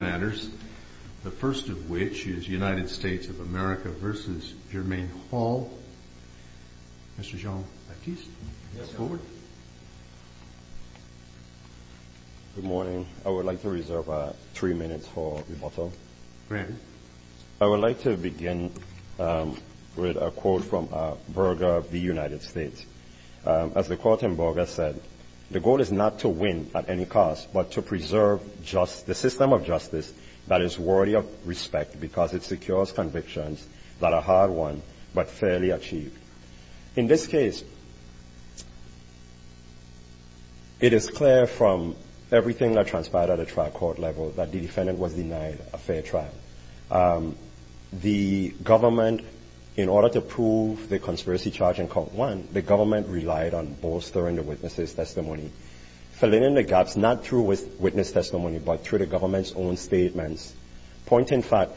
Good morning. I would like to reserve three minutes for rebuttal. I would like to begin with a quote from Berger of the United States. As the quote in Berger said, the goal is not to win at any cost but to preserve the system of justice that is worthy of respect because it secures convictions that are hard won but fairly achieved. In this case, it is clear from everything that transpired at the trial court level that the defendant was denied a fair trial. The government, in order to prove the conspiracy charge in court one, the government relied on bolstering the witness' testimony. Filling in the gaps, not through witness testimony but through the government's own statements. Point in fact,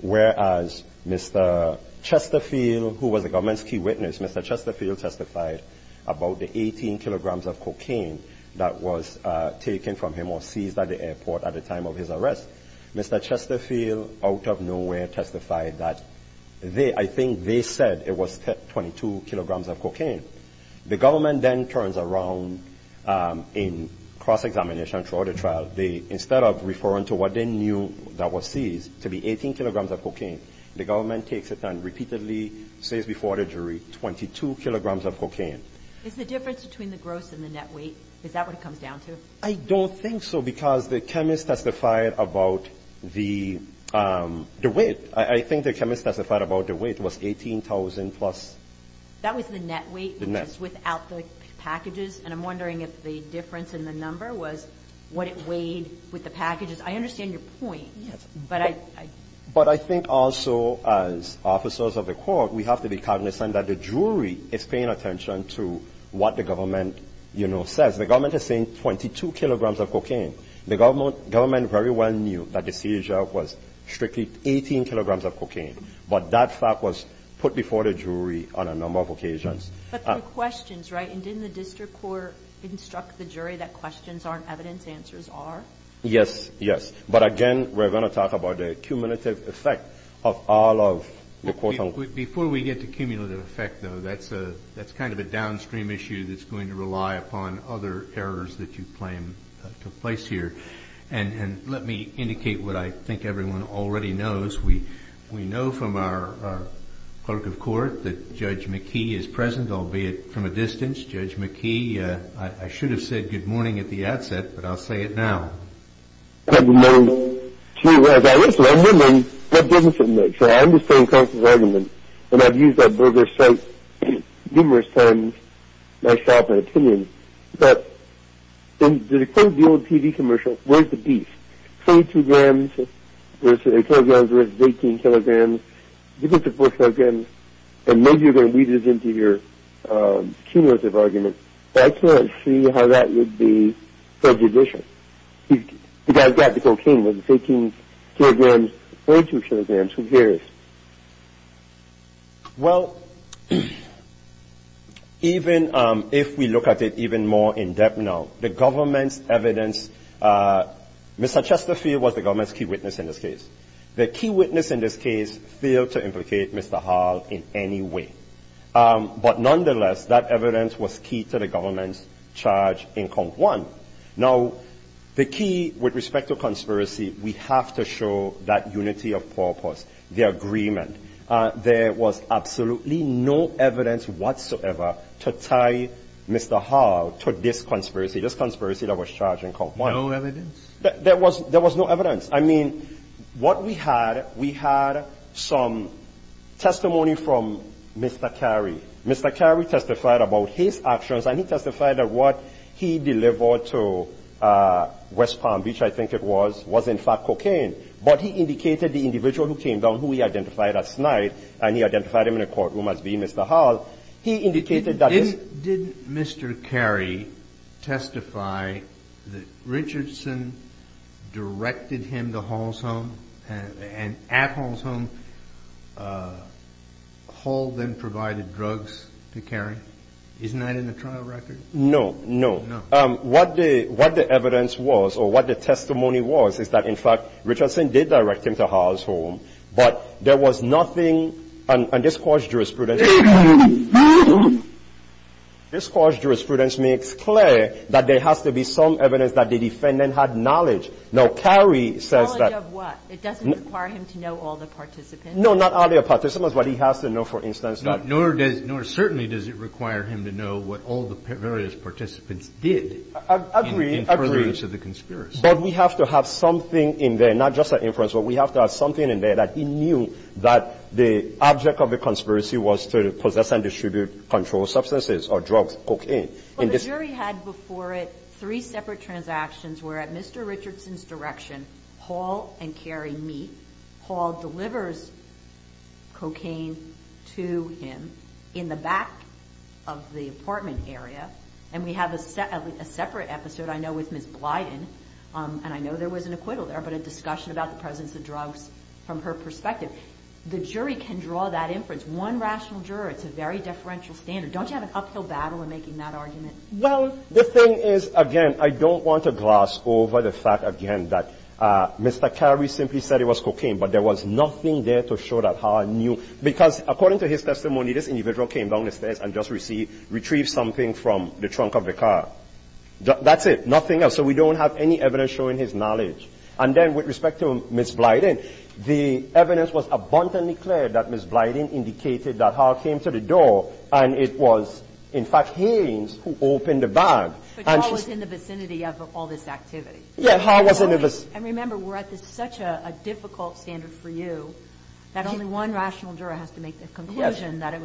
whereas Mr. Chesterfield, who was the government's key witness, Mr. Chesterfield testified about the 18 kilograms of cocaine that was taken from him or seized at the airport at the time of his arrest. Mr. Chesterfield, out of nowhere, testified that they, I think they said it was 18 kilograms of cocaine. The government then turns around in cross-examination throughout the trial. They, instead of referring to what they knew that was seized, to the 18 kilograms of cocaine, the government takes it and repeatedly says before the jury, 22 kilograms of cocaine. Is the difference between the gross and the net weight, is that what it comes down to? I don't think so because the chemist testified about the weight. I think the chemist testified about the weight was 18,000 plus. That was the net weight, which is without the packages, and I'm wondering if the difference in the number was what it weighed with the packages. I understand your point, but I... But I think also as officers of the court, we have to be cognizant that the jury is paying attention to what the government, you know, says. The government is saying 22 kilograms of cocaine. The government very well knew that the seizure was strictly 18 kilograms of cocaine, but that fact was put before the jury on a number of occasions. But there were questions, right? And didn't the district court instruct the jury that questions aren't evidence, answers are? Yes, yes. But again, we're going to talk about the cumulative effect of all of the court... Before we get to cumulative effect, though, that's kind of a downstream issue that's going to rely upon other errors that you claim took place here. And let me indicate what I think everyone already knows. We know from our clerk of court that Judge McKee is present, albeit from a distance. Judge McKee, I should have said good morning at the outset, but I'll say it now. Good morning, too. As I listen, I'm a woman, what difference does it make? So I understand Constance's argument, and I've used that brother's site numerous times myself in opinion. But in the quote of the old TV commercial, where's the beef? 42 grams versus 18 kilograms. Give it to 4 kilograms, and maybe you're going to weave this into your cumulative argument. But I can't see how that would be prejudicial. The guy's got the cocaine, where's the 18 kilograms? Well, even if we look at it even more in-depth now, the government's evidence, Mr. Chesterfield was the government's key witness in this case. The key witness in this case failed to implicate Mr. Hall in any way. But nonetheless, that evidence was key to the government's charge in Cont I. Now, the key with respect to conspiracy, we have to show that unity of purpose. The agreement. There was absolutely no evidence whatsoever to tie Mr. Hall to this conspiracy, this conspiracy that was charged in Cont I. No evidence? There was no evidence. I mean, what we had, we had some testimony from Mr. Carey. Mr. Carey testified about his actions, and he testified that what he delivered to West Palm Beach, I think it was, was in fact cocaine. But he indicated the individual who came down, who he identified as snide, and he identified him in a courtroom as being Mr. Hall, he indicated that this Didn't Mr. Carey testify that Richardson directed him to Hall's home, and at Hall's home, Hall then provided drugs to Carey? Isn't that in the trial record? No, no. What the evidence was, or what the testimony was, is that, in fact, Richardson did direct him to Hall's home, but there was nothing on this court's jurisprudence This court's jurisprudence makes clear that there has to be some evidence that the defendant had knowledge. Now, Carey says that Knowledge of what? It doesn't require him to know all the participants? No, not all the participants, but he has to know, for instance, that Nor does, nor certainly does it require him to know what all the various participants did in furtherance of the conspiracy. But we have to have something in there, not just an inference, but we have to have something in there that he knew that the object of the conspiracy was to possess and distribute controlled substances or drugs, cocaine. But the jury had before it three separate transactions where at Mr. Richardson's direction, Hall and Carey meet. Hall delivers cocaine to him in the back of the apartment area, and we have a separate episode, I know, with Ms. Blyden, and I know there was an acquittal there, but a discussion about the presence of drugs from her perspective. The jury can draw that inference. One rational juror. It's a very deferential standard. Don't you have an uphill battle in making that argument? Well, the thing is, again, I don't want to gloss over the fact, again, that Mr. Carey simply said it was cocaine, but there was nothing there to show that Hall knew, because according to his testimony, this individual came down the stairs and just retrieved something from the trunk of the car. That's it. Nothing else. So we don't have any evidence showing his knowledge. And then with respect to Ms. Blyden, the evidence was abundantly clear that Ms. Blyden had opened the door, and it was, in fact, Haynes who opened the bag. But Hall was in the vicinity of all this activity. Yeah, Hall was in the vicinity. And remember, we're at such a difficult standard for you that only one rational juror has to make the conclusion that it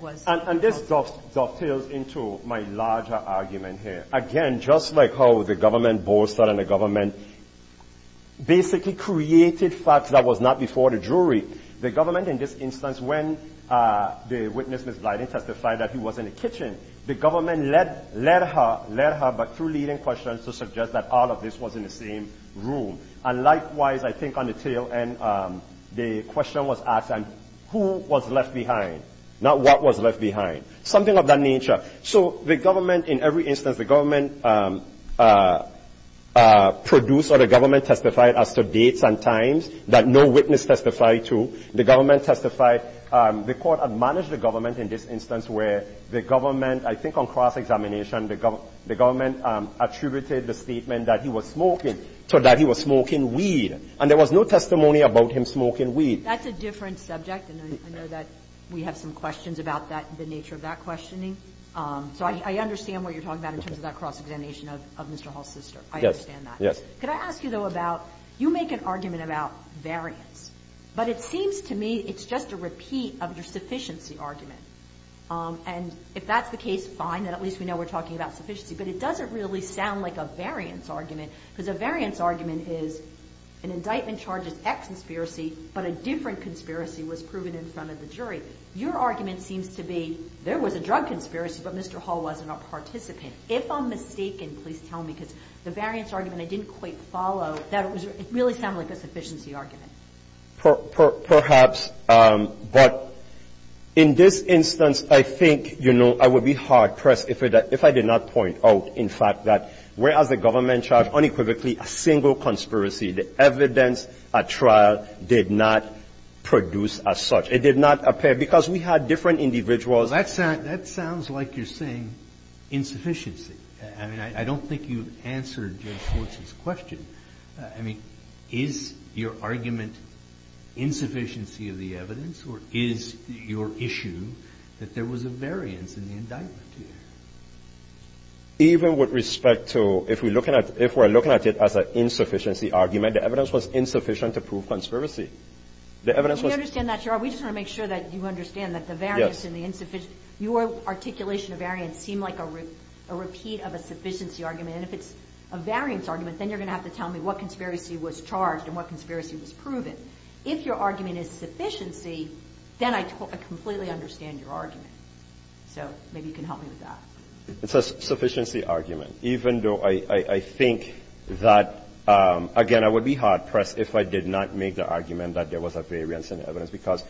was. And this dovetails into my larger argument here. Again, just like how the government bolstered and the government basically created facts that was not before the jury, the government in this instance, when the witness, Ms. Blyden, testified that he was in the kitchen, the government led her through leading questions to suggest that all of this was in the same room. And likewise, I think on the tail end, the question was asked, who was left behind, not what was left behind, something of that nature. So the government, in every instance, the government produced or the government testified as to dates and times that no witness testified to. The government testified the court had managed the government in this instance where the government I think on cross-examination, the government attributed the statement that he was smoking, so that he was smoking weed. And there was no testimony about him smoking weed. That's a different subject, and I know that we have some questions about that, the nature of that questioning. So I understand what you're talking about in terms of that cross-examination of Mr. Hall's sister. I understand that. Yes. Could I ask you, though, about, you make an argument about variance, but it seems to me it's just a repeat of your sufficiency argument. And if that's the case, fine, then at least we know we're talking about sufficiency. But it doesn't really sound like a variance argument, because a variance argument is an indictment charges X conspiracy, but a different conspiracy was proven in front of the jury. Your argument seems to be there was a drug conspiracy, but Mr. Hall wasn't a drug conspiracy. So how mistaken, please tell me, because the variance argument I didn't quite follow, it really sounded like a sufficiency argument. Perhaps. But in this instance, I think, you know, I would be hard-pressed if I did not point out, in fact, that whereas the government charged unequivocally a single conspiracy, the evidence at trial did not produce as such. It did not appear, because we had different individuals. Well, that sounds like you're saying insufficiency. I mean, I don't think you answered Judge Schwartz's question. I mean, is your argument insufficiency of the evidence or is your issue that there was a variance in the indictment? Even with respect to if we're looking at it as an insufficiency argument, the evidence was insufficient to prove conspiracy. The evidence was – Again, we just want to make sure that you understand that the variance and the insufficiency – your articulation of variance seemed like a repeat of a sufficiency argument. And if it's a variance argument, then you're going to have to tell me what conspiracy was charged and what conspiracy was proven. If your argument is sufficiency, then I completely understand your argument. So maybe you can help me with that. It's a sufficiency argument, even though I think that, again, I would be hard-pressed if I did not make the argument that there was a variance in the evidence, because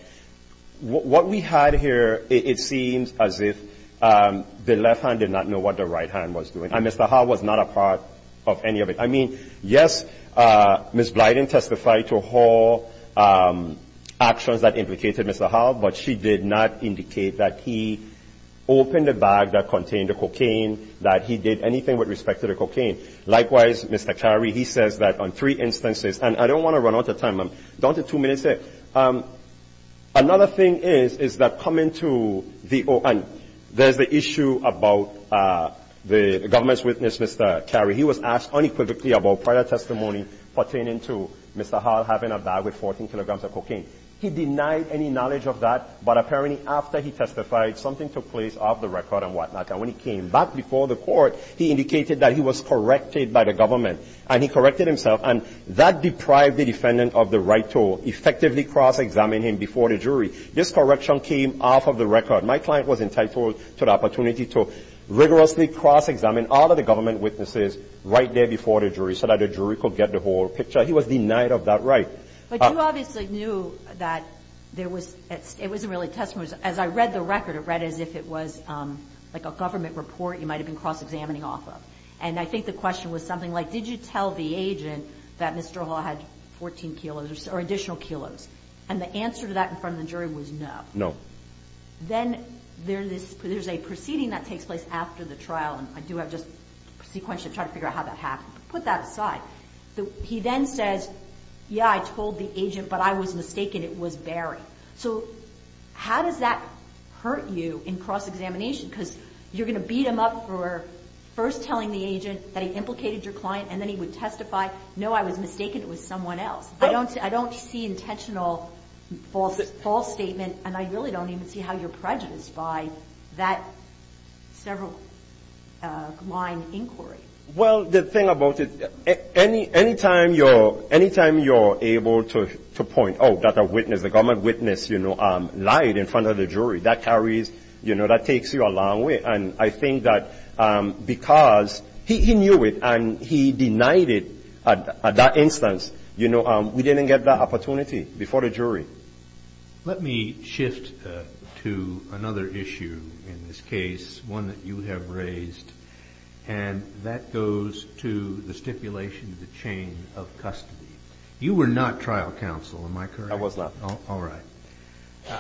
what we had here, it seems as if the left hand did not know what the right hand was doing. And Mr. Howell was not a part of any of it. I mean, yes, Ms. Blyden testified to her actions that implicated Mr. Howell, but she did not indicate that he opened the bag that contained the cocaine, that he did anything with respect to the cocaine. Likewise, Mr. Carey, he says that on three instances – and I don't want to run out of time. I'm down to two minutes here. Another thing is, is that coming to the – and there's the issue about the government's witness, Mr. Carey. He was asked unequivocally about prior testimony pertaining to Mr. Howell having a bag with 14 kilograms of cocaine. He denied any knowledge of that, but apparently after he testified, something took place off the record and whatnot. And when he came back before the court, he indicated that he was corrected by the government, and he corrected himself. And that deprived the defendant of the right to effectively cross-examine him before the jury. This correction came off of the record. My client was entitled to the opportunity to rigorously cross-examine all of the government witnesses right there before the jury so that the jury could get the whole picture. He was denied of that right. But you obviously knew that there was – it wasn't really testimony. As I read the cross-examining off of. And I think the question was something like, did you tell the agent that Mr. Howell had 14 kilos or additional kilos? And the answer to that in front of the jury was no. No. Then there's a proceeding that takes place after the trial, and I do have just sequentially trying to figure out how that happened. But put that aside. He then says, yeah, I told the agent, but I was mistaken. It was Barry. So how does that work? First telling the agent that he implicated your client, and then he would testify, no, I was mistaken. It was someone else. I don't see intentional false statement, and I really don't even see how you're prejudiced by that several-line inquiry. Well, the thing about it, any time you're able to point, oh, that a witness, a government witness, you know, lied in front of the jury, that carries – you know, that takes you a long way. And I think that because he knew it and he denied it at that instance, you know, we didn't get that opportunity before the jury. Let me shift to another issue in this case, one that you have raised, and that goes to the stipulation of the chain of custody. You were not trial counsel, am I correct? I was not. All right.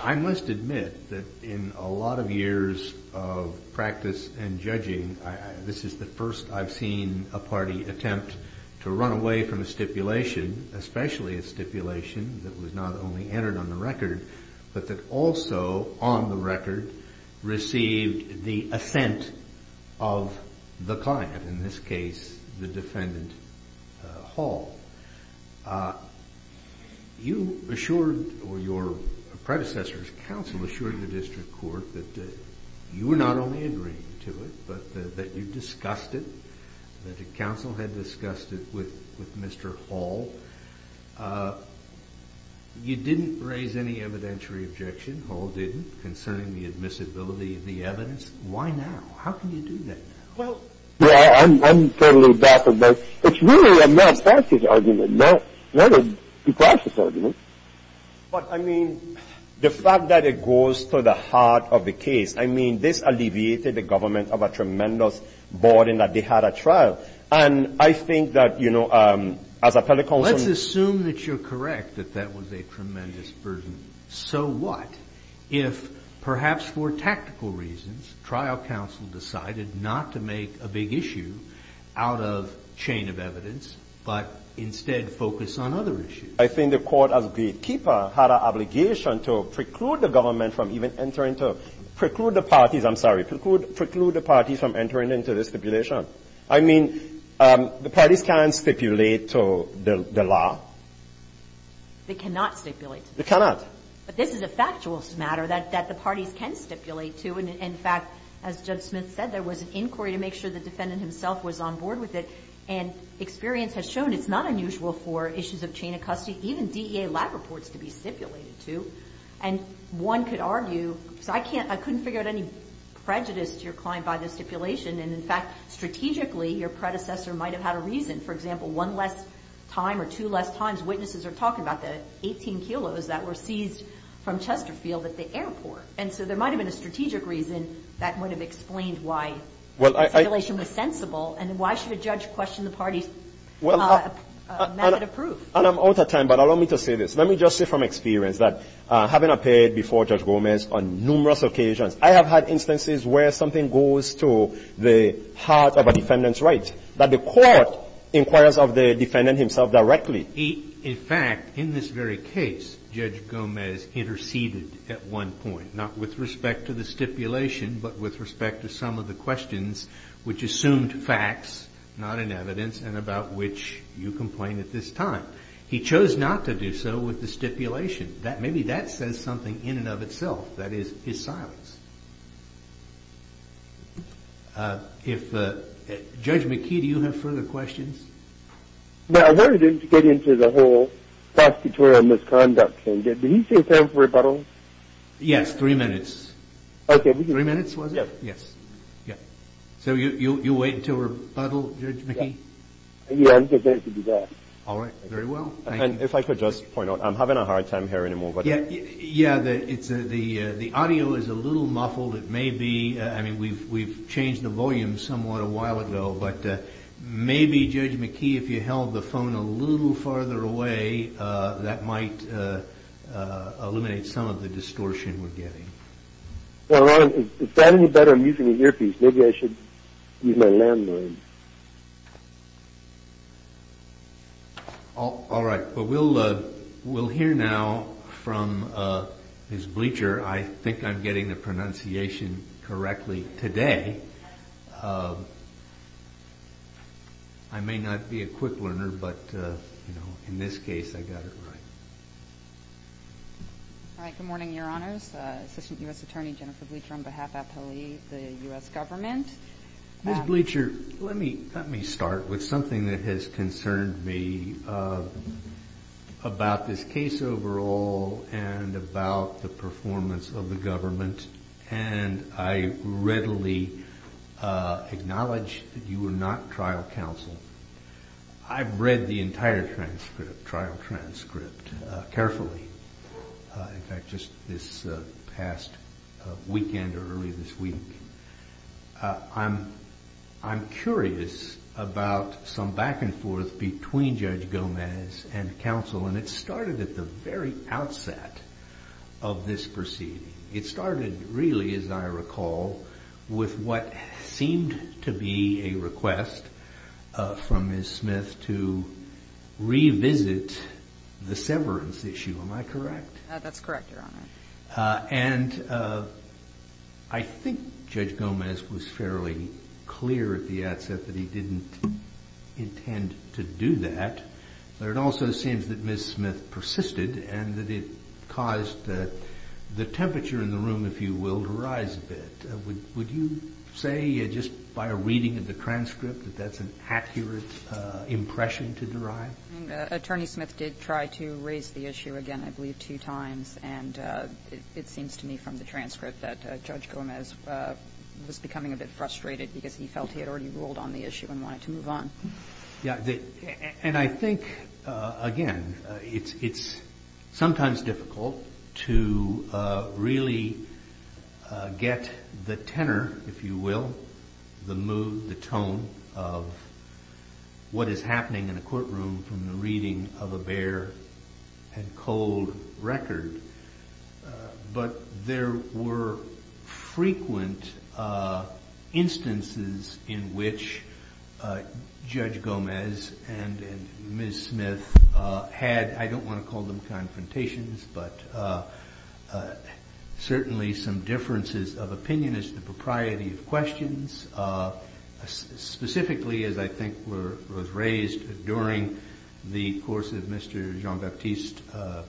I must admit that in a lot of years of practice and judging, this is the first I've seen a party attempt to run away from a stipulation, especially a stipulation that was not only entered on the record, but that also on the record received the assent of the client, in this case the defendant Hall. You assured or your predecessor's counsel assured the district court that you were not only agreeing to it, but that you discussed it, that the counsel had discussed it with Mr. Hall. You didn't raise any evidentiary objection, Hall didn't, concerning the admissibility of the evidence. Why now? How can you do that now? Well, I'm sort of a little baffled by – it's really a malpractice argument, not a malpractice argument. But I mean, the fact that it goes to the heart of the case, I mean, this alleviated the government of a tremendous burden that they had at trial. And I think that, you know, as a telecounsel – Let's assume that you're correct, that that was a tremendous burden. So what if, perhaps for tactical reasons, trial counsel decided not to make a big issue out of chain of evidence, but instead focus on other issues? I think the Court, as gatekeeper, had an obligation to preclude the government from even entering to – preclude the parties, I'm sorry, preclude the parties from entering into the stipulation. I mean, the parties can't stipulate the law. They cannot stipulate. They cannot. But this is a factual matter that the parties can stipulate to. And, in fact, as Judge Smith said, there was an inquiry to make sure the defendant himself was on board with it. And experience has shown it's not unusual for issues of chain of custody, even DEA lab reports, to be stipulated to. And one could argue – because I can't – I couldn't figure out any prejudice to your client by the stipulation. And, in fact, strategically, your predecessor might have had a reason. For example, one less time or two less times witnesses are talking about the 18 kilos that were seized from Chesterfield at the airport. And so there might have been a strategic reason that would have explained why the stipulation was sensible. And why should a judge question the parties' method of proof? And I'm out of time, but allow me to say this. Let me just say from experience that having appeared before Judge Gomez on numerous occasions, I have had instances where something goes to the heart of a defendant's rights that the court inquires of the defendant himself directly. In fact, in this very case, Judge Gomez interceded at one point, not with respect to the stipulation, but with respect to some of the questions, which assumed facts, not in evidence, and about which you complain at this time. He chose not to do so with the stipulation. Maybe that says something in and of itself, that is, his silence. If – Judge McKee, do you have further questions? No, I wanted him to get into the whole prosecutorial misconduct thing. Did he say time for rebuttal? Yes, three minutes. Okay. Three minutes, was it? Yes. Yes. So you'll wait until rebuttal, Judge McKee? Yes, I'm prepared to do that. All right. Very well. And if I could just point out, I'm having a hard time hearing him over. Yes, the audio is a little muffled. It may be – I mean, we've changed the volume somewhat a while ago, but maybe, Judge McKee, if you held the phone a little farther away, that might eliminate some of the distortion we're getting. Well, is that any better? I'm using an earpiece. Maybe I should use my landline. All right. But we'll hear now from his bleacher. I think I'm getting the pronunciation correctly today. I may not be a quick learner, but, you know, in this case, I got it right. All right. Good morning, Your Honors. Assistant U.S. Attorney Jennifer Bleacher on behalf of the U.S. government. Ms. Bleacher, let me start with something that has concerned me about this case overall and about the performance of the government. And I readily acknowledge that you are not trial counsel. I've read the entire trial transcript carefully. In fact, just this past weekend or earlier this week, I'm curious about some back and forth between Judge Gomez and counsel, and it started at the very outset of this proceeding. It started really, as I recall, with what seemed to be a request from Ms. Smith to revisit the severance issue. Am I correct? That's correct, Your Honor. And I think Judge Gomez was fairly clear at the outset that he didn't intend to do that. But it also seems that Ms. Smith persisted and that it caused the temperature in the room, if you will, to rise a bit. Would you say, just by a reading of the transcript, that that's an accurate impression to derive? Attorney Smith did try to raise the issue again, I believe, two times, and it seems to me from the transcript that Judge Gomez was becoming a bit frustrated because he felt he had already ruled on the issue and wanted to move on. And I think, again, it's sometimes difficult to really get the tenor, if you will, the mood, the tone of what is happening in a courtroom from the reading of a bare and cold record. But there were frequent instances in which Judge Gomez and Ms. Smith had, I don't want to call them confrontations, but certainly some differences of opinion as to the propriety of questions, specifically, as I think was raised during the course of Mr. Jean-Baptiste's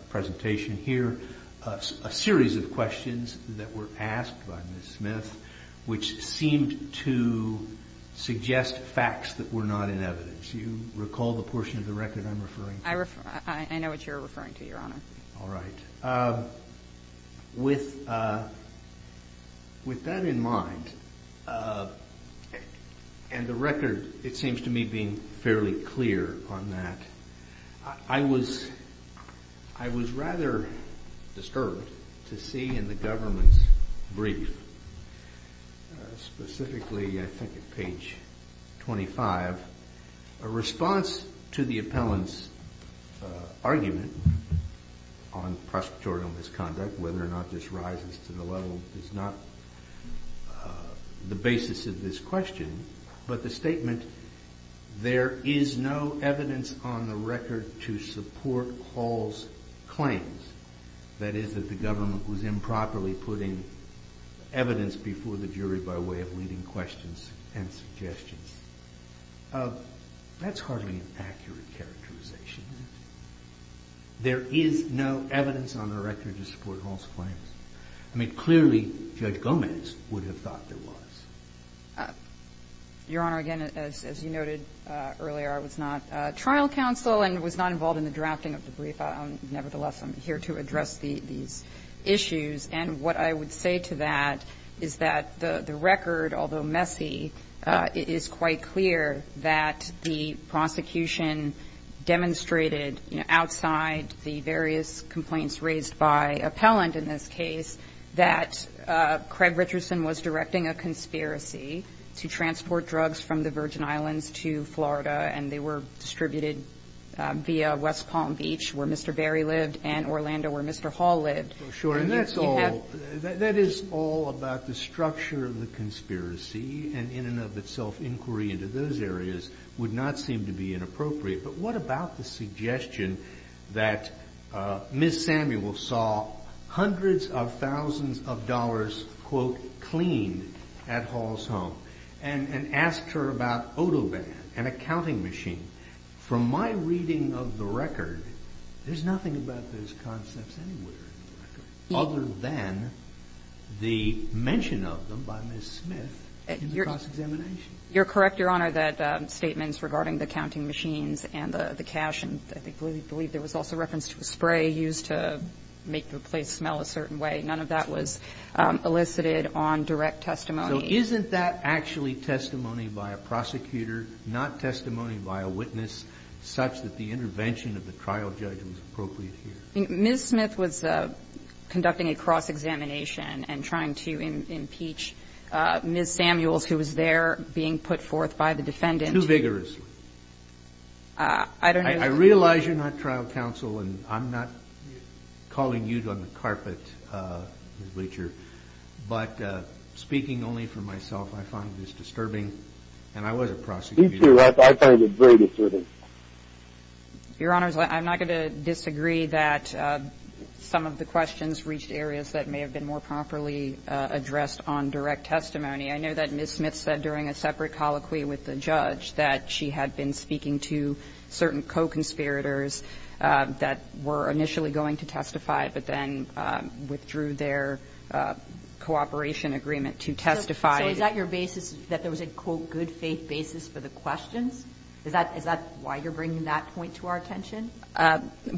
presentation here, a series of questions that were asked by Ms. Smith which seemed to suggest facts that were not in evidence. Do you recall the portion of the record I'm referring to? I know what you're referring to, Your Honor. All right. With that in mind, and the record, it seems to me, being fairly clear on that, I was rather disturbed to see in the government's brief, specifically I think at page 25, a response to the appellant's argument on prosperity misconduct, whether or not this rises to the level is not the basis of this question, but the statement, there is no evidence on the record to support Hall's claims, that is, that the government was improperly putting evidence before the jury by way of leading questions and suggestions. That's hardly an accurate characterization. There is no evidence on the record to support Hall's claims. I mean, clearly Judge Gomez would have thought there was. Your Honor, again, as you noted earlier, I was not trial counsel and was not involved in the drafting of the brief. Nevertheless, I'm here to address these issues. And what I would say to that is that the record, although messy, is quite clear that the prosecution demonstrated outside the various complaints raised by appellant in this case that Craig Richardson was directing a conspiracy to transport drugs from the Virgin Islands to Florida, and they were distributed via West Palm Beach, where Mr. Berry lived, and Orlando, where Mr. Hall lived. And that is all about the structure of the conspiracy, and in and of itself inquiry into those areas would not seem to be inappropriate. But what about the suggestion that Ms. Samuel saw hundreds of thousands of dollars quote cleaned at Hall's home and asked her about Odoban, an accounting machine? From my reading of the record, there's nothing about those concepts anywhere in the record other than the mention of them by Ms. Smith in the cross-examination. You're correct, Your Honor, that statements regarding the accounting machines and the cash, and I believe there was also reference to a spray used to make the place smell a certain way, none of that was elicited on direct testimony. So isn't that actually testimony by a prosecutor, not testimony by a witness, such that the intervention of the trial judge was appropriate here? Ms. Smith was conducting a cross-examination and trying to impeach Ms. Samuels, who was there being put forth by the defendant. Too vigorously. I don't know. I realize you're not trial counsel, and I'm not calling you on the carpet, Ms. Bleacher, but speaking only for myself, I find this disturbing, and I was a prosecutor. Me too. I find it very disturbing. Your Honor, I'm not going to disagree that some of the questions reached areas that may have been more properly addressed on direct testimony. I know that Ms. Smith said during a separate colloquy with the judge that she had to testify, but then withdrew their cooperation agreement to testify. So is that your basis, that there was a, quote, good faith basis for the questions? Is that why you're bringing that point to our attention?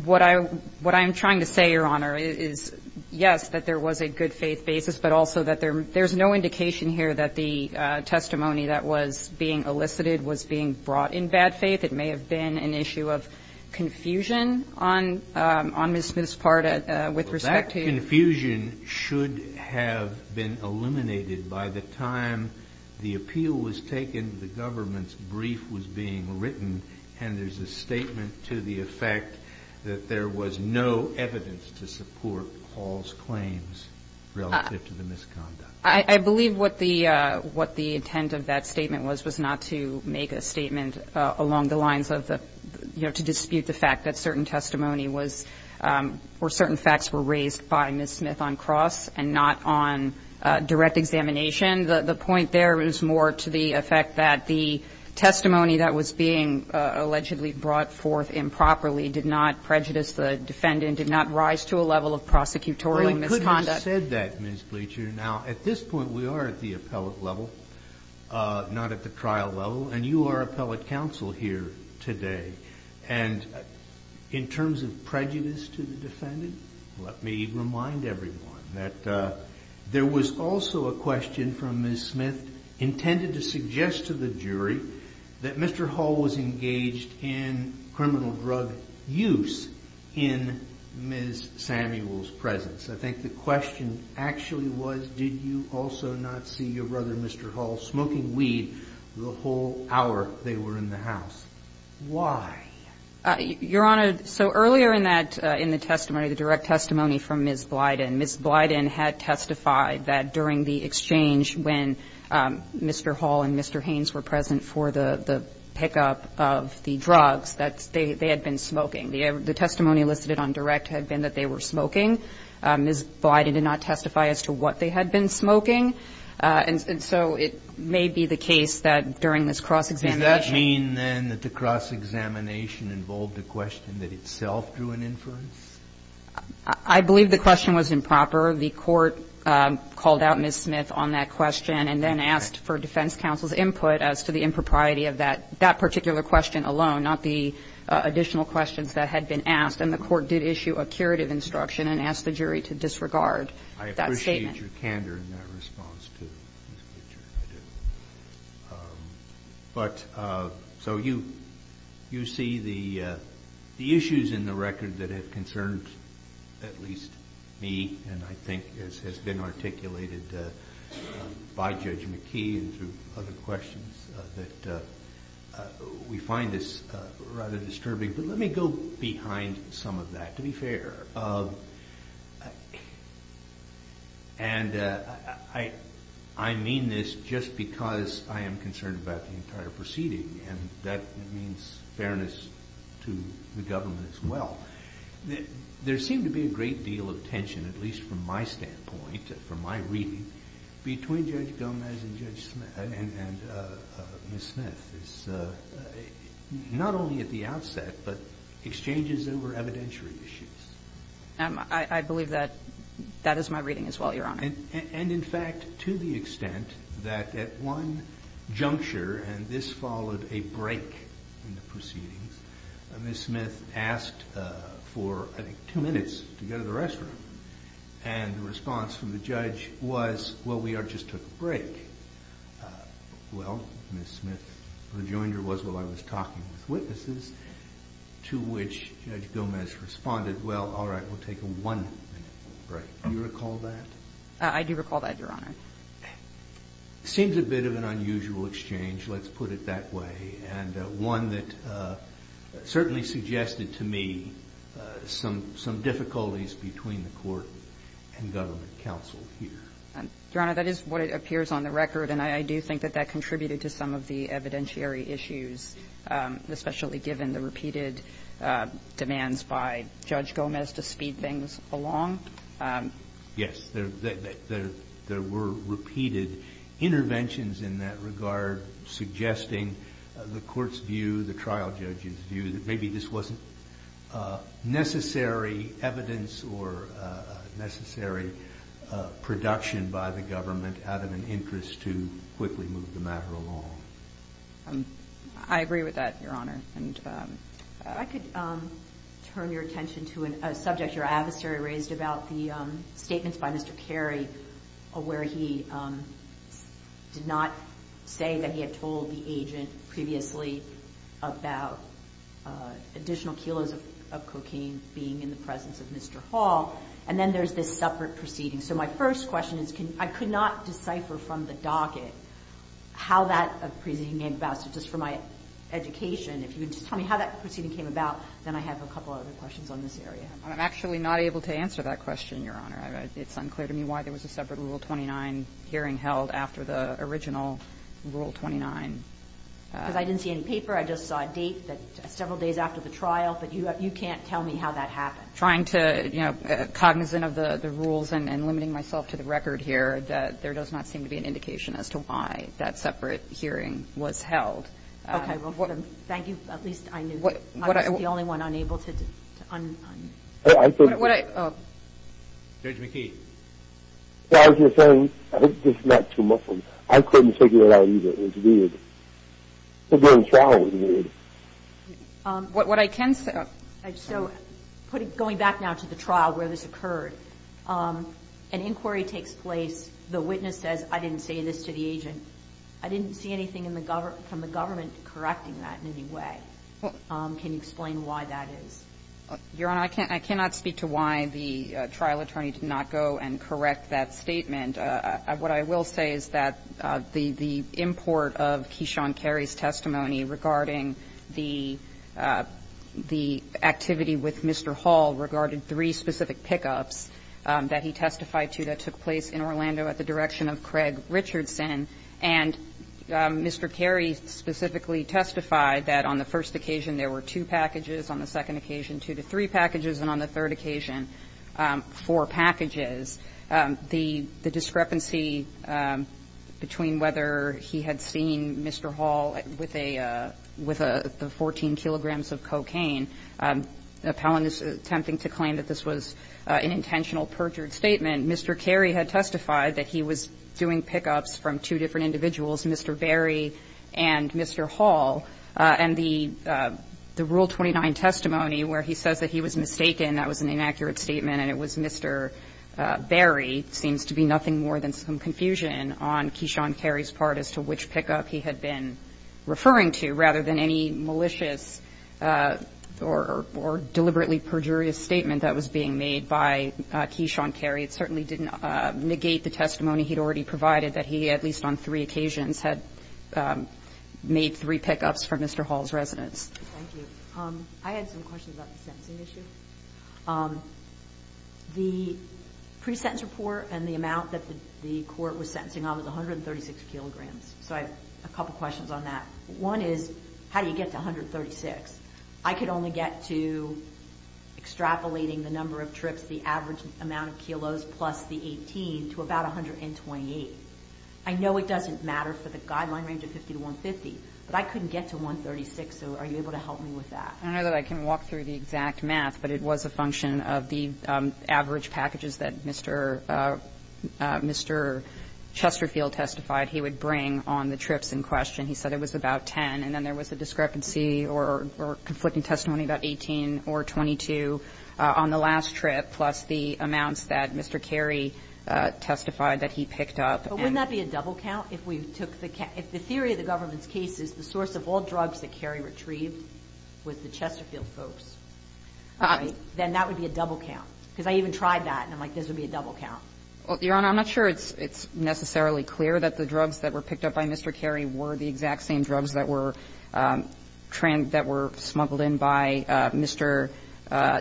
What I'm trying to say, Your Honor, is, yes, that there was a good faith basis, but also that there's no indication here that the testimony that was being elicited was being brought in bad faith. It may have been an issue of confusion on Ms. Smith's part with respect to you. Well, that confusion should have been eliminated by the time the appeal was taken, the government's brief was being written, and there's a statement to the effect that there was no evidence to support Hall's claims relative to the misconduct. I believe what the intent of that statement was, was not to make a statement along the lines of the, you know, to dispute the fact that certain testimony was, or certain facts were raised by Ms. Smith on cross and not on direct examination. The point there is more to the effect that the testimony that was being allegedly brought forth improperly did not prejudice the defendant, did not rise to a level of prosecutorial misconduct. Well, you could have said that, Ms. Bleacher. Now, at this point, we are at the appellate level, not at the trial level, and you are appellate counsel here today. And in terms of prejudice to the defendant, let me remind everyone that there was also a question from Ms. Smith intended to suggest to the jury that Mr. Hall was I think the question actually was, did you also not see your brother, Mr. Hall, smoking weed the whole hour they were in the house? Why? Your Honor, so earlier in that, in the testimony, the direct testimony from Ms. Blyden, Ms. Blyden had testified that during the exchange when Mr. Hall and Mr. Haynes were present for the pickup of the drugs, that they had been smoking. The testimony listed on direct had been that they were smoking. Ms. Blyden did not testify as to what they had been smoking. And so it may be the case that during this cross-examination Does that mean then that the cross-examination involved a question that itself drew an inference? I believe the question was improper. The court called out Ms. Smith on that question and then asked for defense counsel's input as to the impropriety of that particular question alone, not the additional questions that had been asked. And the court did issue a curative instruction and asked the jury to disregard that statement. I appreciate your candor in that response to Ms. Butcher. I do. But so you see the issues in the record that have concerned at least me and I think has been articulated by Judge McKee and through other questions that we find this rather disturbing. But let me go behind some of that, to be fair. And I mean this just because I am concerned about the entire proceeding. And that means fairness to the government as well. There seemed to be a great deal of tension, at least from my standpoint, from my reading, between Judge Gomez and Judge Smith and Ms. Smith. It's not only at the outset, but exchanges over evidentiary issues. I believe that that is my reading as well, Your Honor. And in fact, to the extent that at one juncture, and this followed a break in the proceedings, Ms. Smith asked for, I think, two minutes to go to the restroom. And the response from the judge was, well, we just took a break. Well, Ms. Smith rejoined her words while I was talking with witnesses, to which Judge Gomez responded, well, all right, we'll take a one-minute break. Do you recall that? I do recall that, Your Honor. It seems a bit of an unusual exchange, let's put it that way, and one that certainly suggested to me some difficulties between the court and government counsel here. Your Honor, that is what appears on the record, and I do think that that contributed to some of the evidentiary issues, especially given the repeated demands by Judge Gomez to speed things along. Yes. There were repeated interventions in that regard suggesting the court's view, the evidence, wasn't necessary evidence or necessary production by the government out of an interest to quickly move the matter along. I agree with that, Your Honor. If I could turn your attention to a subject your adversary raised about the statements by Mr. Carey, where he did not say that he had told the agent previously about additional kilos of cocaine being in the presence of Mr. Hall, and then there's this separate proceeding. So my first question is, I could not decipher from the docket how that proceeding came about, so just for my education, if you could just tell me how that proceeding came about, then I have a couple other questions on this area. I'm actually not able to answer that question, Your Honor. It's unclear to me why there was a separate Rule 29 hearing held after the original Rule 29. Because I didn't see any paper. I just saw a date that several days after the trial, but you can't tell me how that happened. Trying to, you know, cognizant of the rules and limiting myself to the record here, that there does not seem to be an indication as to why that separate hearing was held. Okay. Well, thank you. At least I knew. I was the only one unable to un- Judge McKee. I was just saying, I was just not too muffled. I couldn't figure it out either. It was weird. To be in trial was weird. What I can say, so going back now to the trial where this occurred, an inquiry takes place. The witness says, I didn't say this to the agent. I didn't see anything from the government correcting that in any way. Can you explain why that is? Your Honor, I cannot speak to why the trial attorney did not go and correct that statement. What I will say is that the import of Keyshawn Carey's testimony regarding the activity with Mr. Hall regarding three specific pickups that he testified to that took place in Orlando at the direction of Craig Richardson, and Mr. Carey specifically testified that on the first occasion there were two packages, on the second occasion two to three packages, and on the third occasion four packages. The discrepancy between whether he had seen Mr. Hall with a 14 kilograms of cocaine appellant is attempting to claim that this was an intentional perjured statement. Mr. Carey had testified that he was doing pickups from two different individuals, Mr. Berry and Mr. Hall, and the Rule 29 testimony where he says that he was mistaken, that was an inaccurate statement and it was Mr. Berry, seems to be nothing more than some confusion on Keyshawn Carey's part as to which pickup he had been referring to rather than any malicious or deliberately perjurious statement that was being made by Keyshawn Carey. It certainly didn't negate the testimony he had already provided that he, at least on three occasions, had made three pickups from Mr. Hall's residence. Thank you. I had some questions about the sentencing issue. The pre-sentence report and the amount that the court was sentencing on was 136 kilograms, so I have a couple questions on that. One is, how do you get to 136? I could only get to extrapolating the number of trips, the average amount of kilos plus the 18, to about 128. I know it doesn't matter for the guideline range of 50 to 150, but I couldn't get to 136, so are you able to help me with that? I don't know that I can walk through the exact math, but it was a function of the average packages that Mr. Chesterfield testified he would bring on the trips in question. He said it was about 10, and then there was a discrepancy or conflicting testimony about 18 or 22 on the last trip, plus the amounts that Mr. Carey testified that he picked up. But wouldn't that be a double count? If we took the can – if the theory of the government's case is the source of all drugs that Carey retrieved was the Chesterfield folks, then that would be a double count, because I even tried that, and I'm like, this would be a double count. Your Honor, I'm not sure it's necessarily clear that the drugs that were picked up by Mr. Carey were the exact same drugs that were – that were smuggled in by Mr.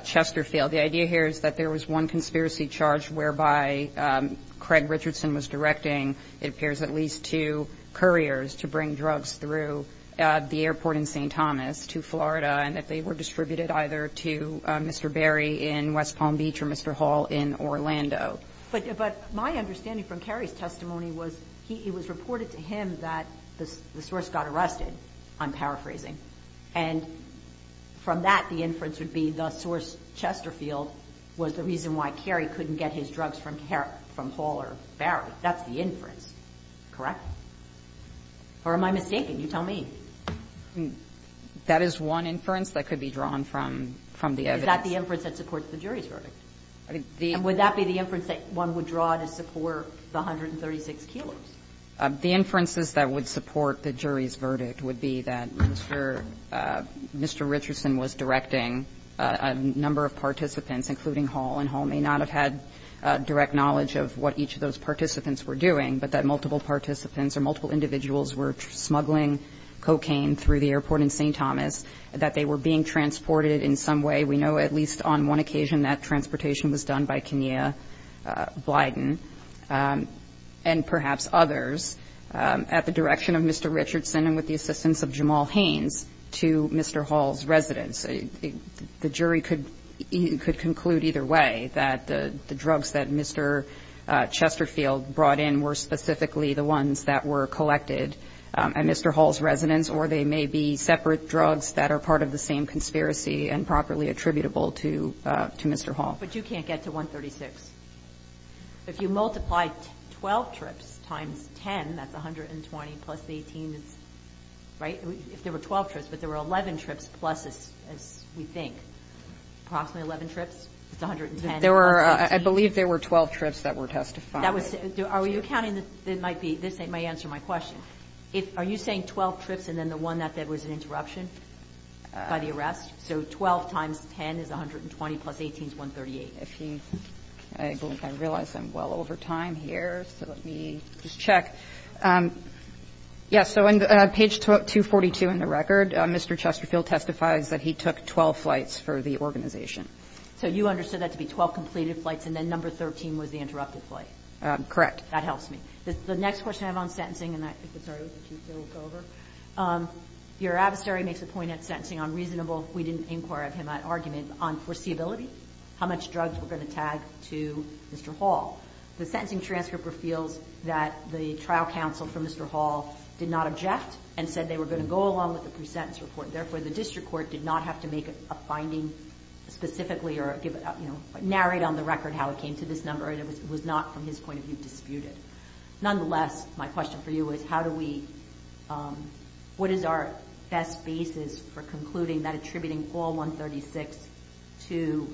Chesterfield. The idea here is that there was one conspiracy charge whereby Craig Richardson was directing, it appears, at least two couriers to bring drugs through the airport in St. Thomas to Florida, and that they were distributed either to Mr. Berry in West Palm Beach or Mr. Hall in Orlando. But – but my understanding from Carey's testimony was he – it was reported to him that the source got arrested. I'm paraphrasing. And from that, the inference would be the source, Chesterfield, was the reason why Carey couldn't get his drugs from – from Hall or Berry. That's the inference, correct? Or am I mistaken? You tell me. That is one inference that could be drawn from – from the evidence. Is that the inference that supports the jury's verdict? I think the – And would that be the inference that one would draw to support the 136 kilos? The inferences that would support the jury's verdict would be that Mr. – Mr. Richardson was directing a number of participants, including Hall, and Hall may not have had direct knowledge of what each of those participants were doing, but that multiple participants or multiple individuals were smuggling cocaine through the airport in St. Thomas, that they were being transported in some way. We know at least on one occasion that transportation was done by Kenia Blyden and perhaps others at the direction of Mr. Richardson and with the assistance of Jamal Haynes to Mr. Hall's residence. The jury could – could conclude either way, that the drugs that Mr. Chesterfield brought in were specifically the ones that were collected at Mr. Hall's residence, or they may be separate drugs that are part of the same conspiracy and properly attributable to – to Mr. Hall. But you can't get to 136. If you multiply 12 trips times 10, that's 120, plus 18 is – right? If there were 12 trips, but there were 11 trips plus, as we think, approximately 11 trips, it's 110 plus 18. There were – I believe there were 12 trips that were testified. That was – are you counting the – it might be – this may answer my question. If – are you saying 12 trips and then the one that there was an interruption by the arrest? So 12 times 10 is 120 plus 18 is 138. If he – I realize I'm well over time here, so let me just check. Yes. So on page 242 in the record, Mr. Chesterfield testifies that he took 12 flights for the organization. So you understood that to be 12 completed flights and then number 13 was the interrupted Correct. That helps me. The next question I have on sentencing, and I think it started with the Chief, so we'll go over. Your adversary makes a point at sentencing on reasonable – we didn't inquire of him at argument – on foreseeability, how much drugs were going to tag to Mr. Hall. The sentencing transcript reveals that the trial counsel for Mr. Hall did not object and said they were going to go along with the pre-sentence report. Therefore, the district court did not have to make a finding specifically or give – you know, narrate on the record how it came to this number. It was not, from his point of view, disputed. Nonetheless, my question for you is how do we – what is our best basis for concluding that attributing 4136 to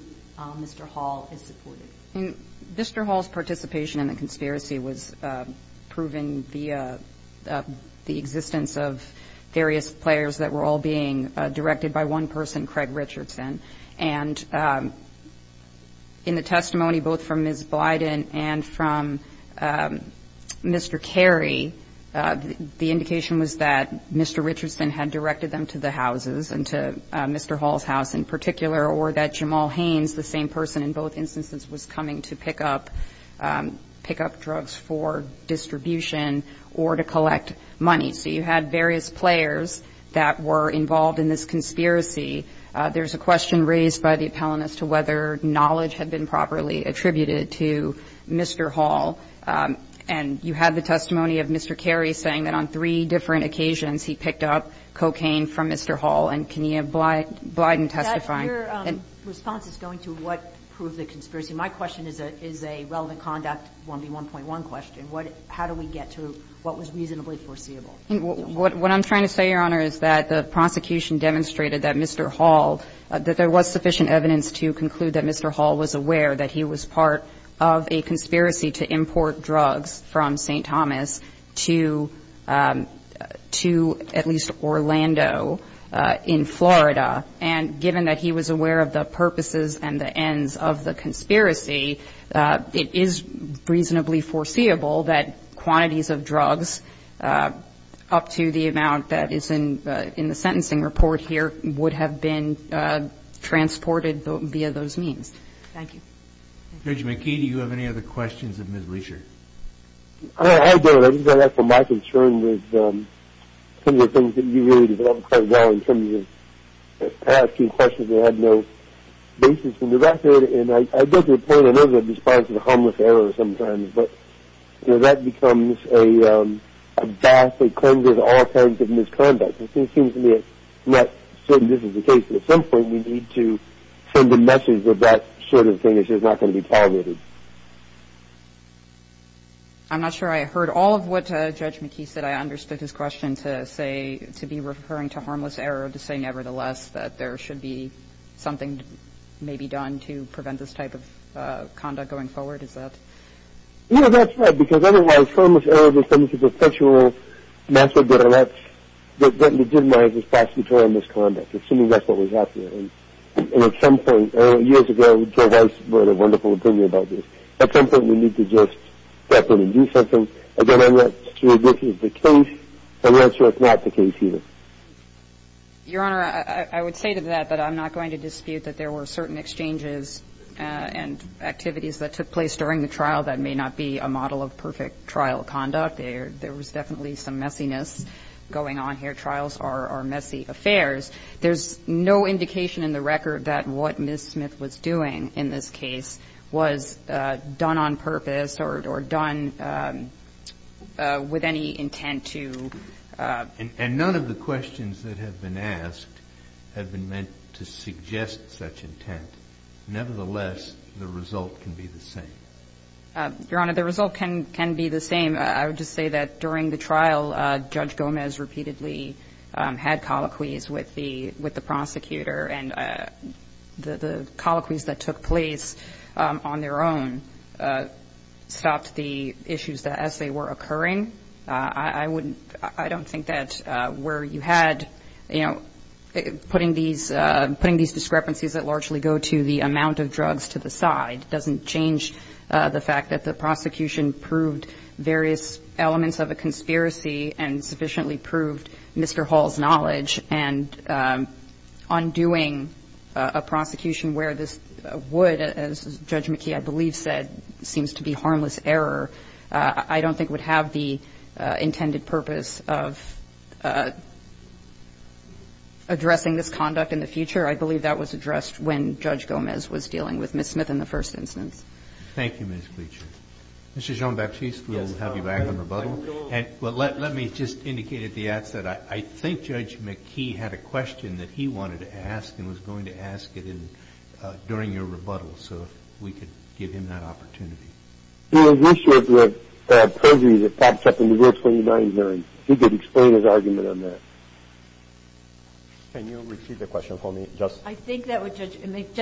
Mr. Hall is supported? Mr. Hall's participation in the conspiracy was proven via the existence of various players that were all being directed by one person, Craig Richardson. And in the testimony both from Ms. Blyden and from Mr. Carey, the indication was that Mr. Richardson had directed them to the houses and to Mr. Hall's house in particular or that Jamal Haynes, the same person in both instances, was coming to pick up – pick up drugs for distribution or to collect money. So you had various players that were involved in this conspiracy. There's a question raised by the appellant as to whether knowledge had been properly attributed to Mr. Hall, and you had the testimony of Mr. Carey saying that on three different occasions he picked up cocaine from Mr. Hall. And can you have Blyden testifying? And your response is going to what proved the conspiracy. My question is a relevant conduct 1B1.1 question. How do we get to what was reasonably foreseeable? What I'm trying to say, Your Honor, is that the prosecution demonstrated that Mr. Hall – that there was sufficient evidence to conclude that Mr. Hall was aware that he was part of a conspiracy to import drugs from St. Thomas to at least Orlando in Florida. And given that he was aware of the purposes and the ends of the conspiracy, it is reasonably foreseeable that quantities of drugs, up to the amount that is in the sentencing report here, would have been transported via those means. Thank you. Judge McKee, do you have any other questions of Ms. Leischer? I don't. I think that's my concern with some of the things that you really developed quite well in terms of asking questions that had no basis in the record. And I get to the point, I know that it responds to the harmless error sometimes, but, you know, that becomes a bath that cleanses all kinds of misconduct. It seems to me it's not certain this is the case. But at some point, we need to send a message that that sort of thing is just not going to be tolerated. I'm not sure I heard all of what Judge McKee said. I understood his question to say – to be referring to harmless error to say, nevertheless, that there should be something maybe done to prevent this type of conduct going forward. Is that – Yeah, that's right. Because otherwise, harmless error is something that's a perpetual method that lets – that legitimizes prosecutorial misconduct, assuming that's what was out there. And at some point – years ago, Joe Weiss brought a wonderful opinion about this. At some point, we need to just step in and do something. Again, I'm not sure this is the case. I'm not sure it's not the case either. Your Honor, I would say to that that I'm not going to dispute that there were certain exchanges and activities that took place during the trial that may not be a model of perfect trial conduct. There was definitely some messiness going on here. Trials are messy affairs. There's no indication in the record that what Ms. Smith was doing in this case was done on purpose or done with any intent to – And none of the questions that have been asked have been meant to suggest such intent. Nevertheless, the result can be the same. Your Honor, the result can be the same. I would just say that during the trial, Judge Gomez repeatedly had colloquies with the prosecutor, and the colloquies that took place on their own stopped the issues as they were occurring. I wouldn't – I don't think that where you had, you know, putting these discrepancies that largely go to the amount of drugs to the side doesn't change the fact that the prosecution proved various elements of a conspiracy and sufficiently proved Mr. Hall's knowledge. And undoing a prosecution where this would, as Judge McKee, I believe, said, seems to be harmless error. I don't think it would have the intended purpose of addressing this conduct in the future. I believe that was addressed when Judge Gomez was dealing with Ms. Smith in the first instance. Thank you, Ms. Gleeson. Mr. Jean-Baptiste, we'll have you back in rebuttal. Let me just indicate at the outset, I think Judge McKee had a question that he wanted to ask and was going to ask it during your rebuttal, so if we could give him that opportunity. The issue of the perjuries that pops up in the Rule 29 hearing, he could explain his argument on that. Can you repeat the question for me, Justice? I think that would – Judge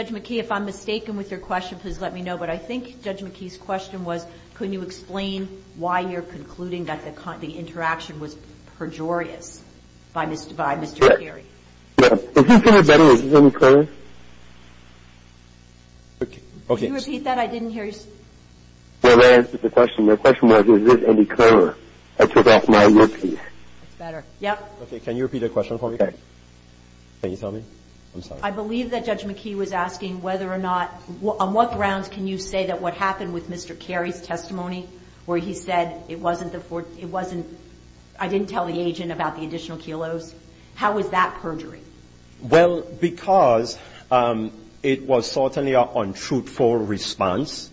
McKee, if I'm mistaken with your question, please let me know. But I think Judge McKee's question was, can you explain why you're concluding that the interaction was pejorious by Mr. Carey? Yeah. If you can rebut it, is it okay? Can you repeat that? I didn't hear you. Well, I answered the question. The question was, is this any clearer? I took off my earpiece. That's better. Yep. Okay, can you repeat the question for me? Okay. Can you tell me? I'm sorry. I believe that Judge McKee was asking whether or not – on what grounds can you say that what happened with Mr. Carey's testimony where he said it wasn't the – it wasn't – I didn't tell the agent about the additional kilos, how was that perjury? Well, because it was certainly an untruthful response,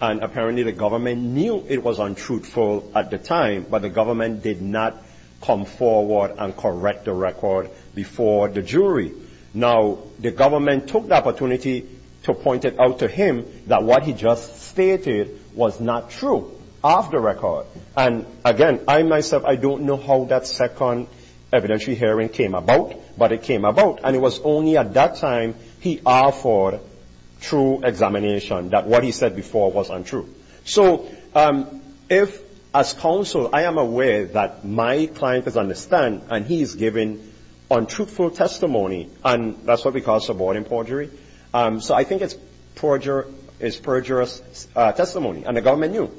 and apparently the government knew it was untruthful at the time, but the government did not come forward and correct the record before the jury. Now, the government took the opportunity to point it out to him that what he just stated was not true of the record. And again, I myself, I don't know how that second evidentiary hearing came about, but it came about, and it was only at that time he offered true examination that what he said before was untrue. So, if, as counsel, I am aware that my client does understand, and he is giving untruthful testimony, and that's what we call subordinate perjury. So, I think it's perjurous testimony, and the government knew,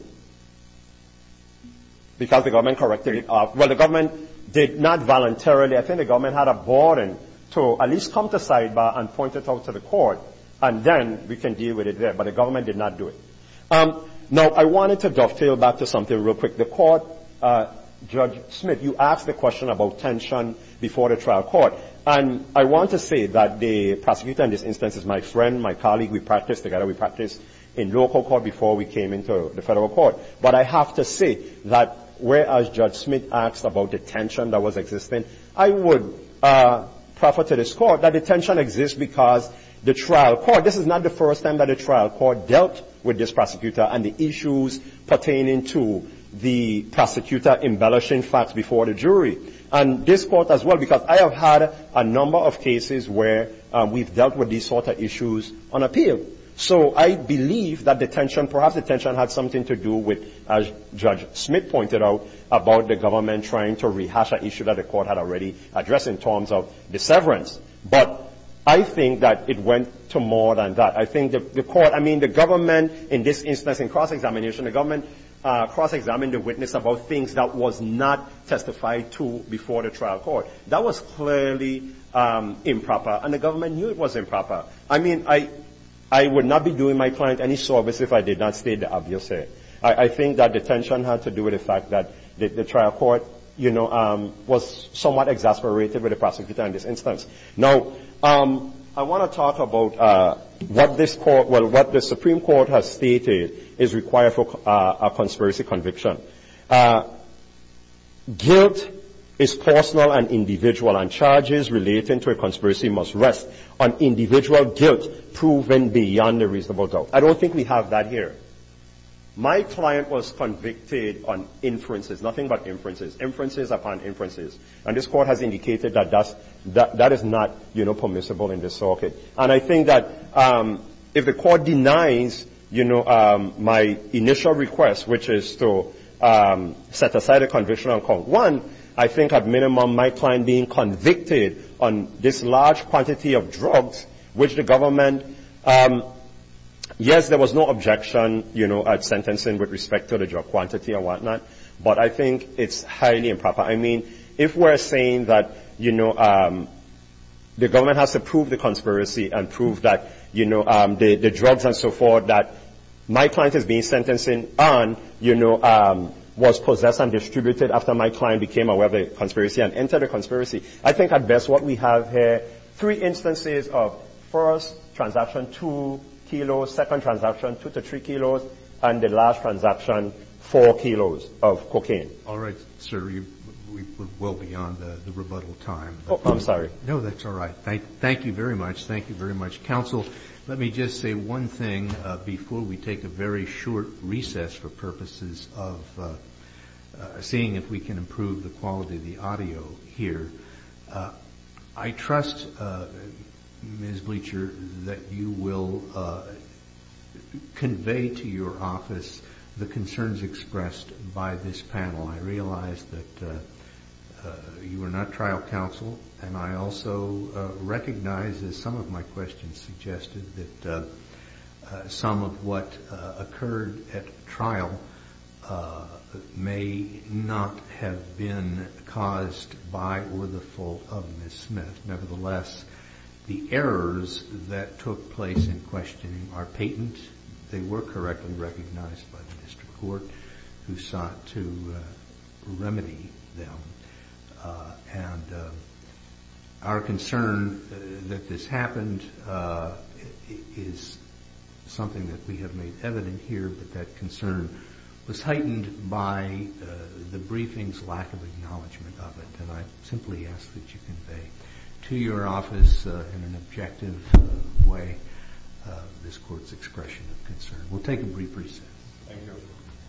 because the government corrected it. Well, the government did not voluntarily. I think the government had a burden to at least come to sidebar and point it out to the court, and then we can deal with it there. But the government did not do it. Now, I wanted to dovetail back to something real quick. The court, Judge Smith, you asked the question about tension before the trial court. And I want to say that the prosecutor in this instance is my friend, my colleague. We practiced together. We practiced in local court before we came into the Federal court. But I have to say that whereas Judge Smith asked about the tension that was existing, I would prefer to this court that the tension exists because the trial court, this is not the first time that a trial court dealt with this prosecutor and the issues pertaining to the prosecutor embellishing facts before the jury. And this court as well, because I have had a number of cases where we've dealt with these sort of issues on appeal. So I believe that the tension, perhaps the tension had something to do with, as Judge Smith pointed out, about the government trying to rehash an issue that the court had already addressed in terms of the severance. But I think that it went to more than that. I think the court, I mean, the government in this instance in cross-examination, the government cross-examined the witness about things that was not testified to before the trial court. That was clearly improper, and the government knew it was improper. I mean, I would not be doing my client any service if I did not state the obvious here. I think that the tension had to do with the fact that the trial court, you know, was somewhat exasperated with the prosecutor in this instance. Now, I want to talk about what this court, well, what the Supreme Court has stated is required for a conspiracy conviction. Guilt is personal and individual, and charges relating to a conspiracy must rest on individual guilt proven beyond a reasonable doubt. I don't think we have that here. My client was convicted on inferences. Nothing but inferences. Inferences upon inferences. And this court has indicated that that is not, you know, permissible in this circuit. And I think that if the court denies, you know, my initial request, which is to set aside a conviction on count one, I think at minimum my client being convicted on this large quantity of drugs, which the government, yes, there was no objection, you know, at sentencing with respect to the drug quantity and whatnot. But I think it's highly improper. I mean, if we're saying that, you know, the government has to prove the conspiracy and prove that, you know, the drugs and so forth that my client is being sentenced on, you know, was possessed and distributed after my client became aware of the conspiracy and entered the conspiracy. I think at best what we have here, three instances of first transaction, two kilos, second transaction, two to three kilos, and the last transaction, four kilos of cocaine. All right, sir. We're well beyond the rebuttal time. Oh, I'm sorry. No, that's all right. Thank you very much. Thank you very much. Counsel, let me just say one thing before we take a very short recess for purposes of seeing if we can improve the quality of the audio here. I trust, Ms. Bleacher, that you will convey to your office the concerns expressed by this panel. I realize that you are not trial counsel, and I also recognize, as some of my questions suggested, that some of what occurred at trial may not have been caused by or the fault of Ms. Smith. Nevertheless, the errors that took place in questioning are patent. They were correctly recognized by the district court who sought to remedy them. And our concern that this happened is something that we have made evident here, but that concern was heightened by the briefing's lack of acknowledgment of it. And I simply ask that you convey to your office in an objective way this court's expression of concern. We'll take a brief recess. Thank you.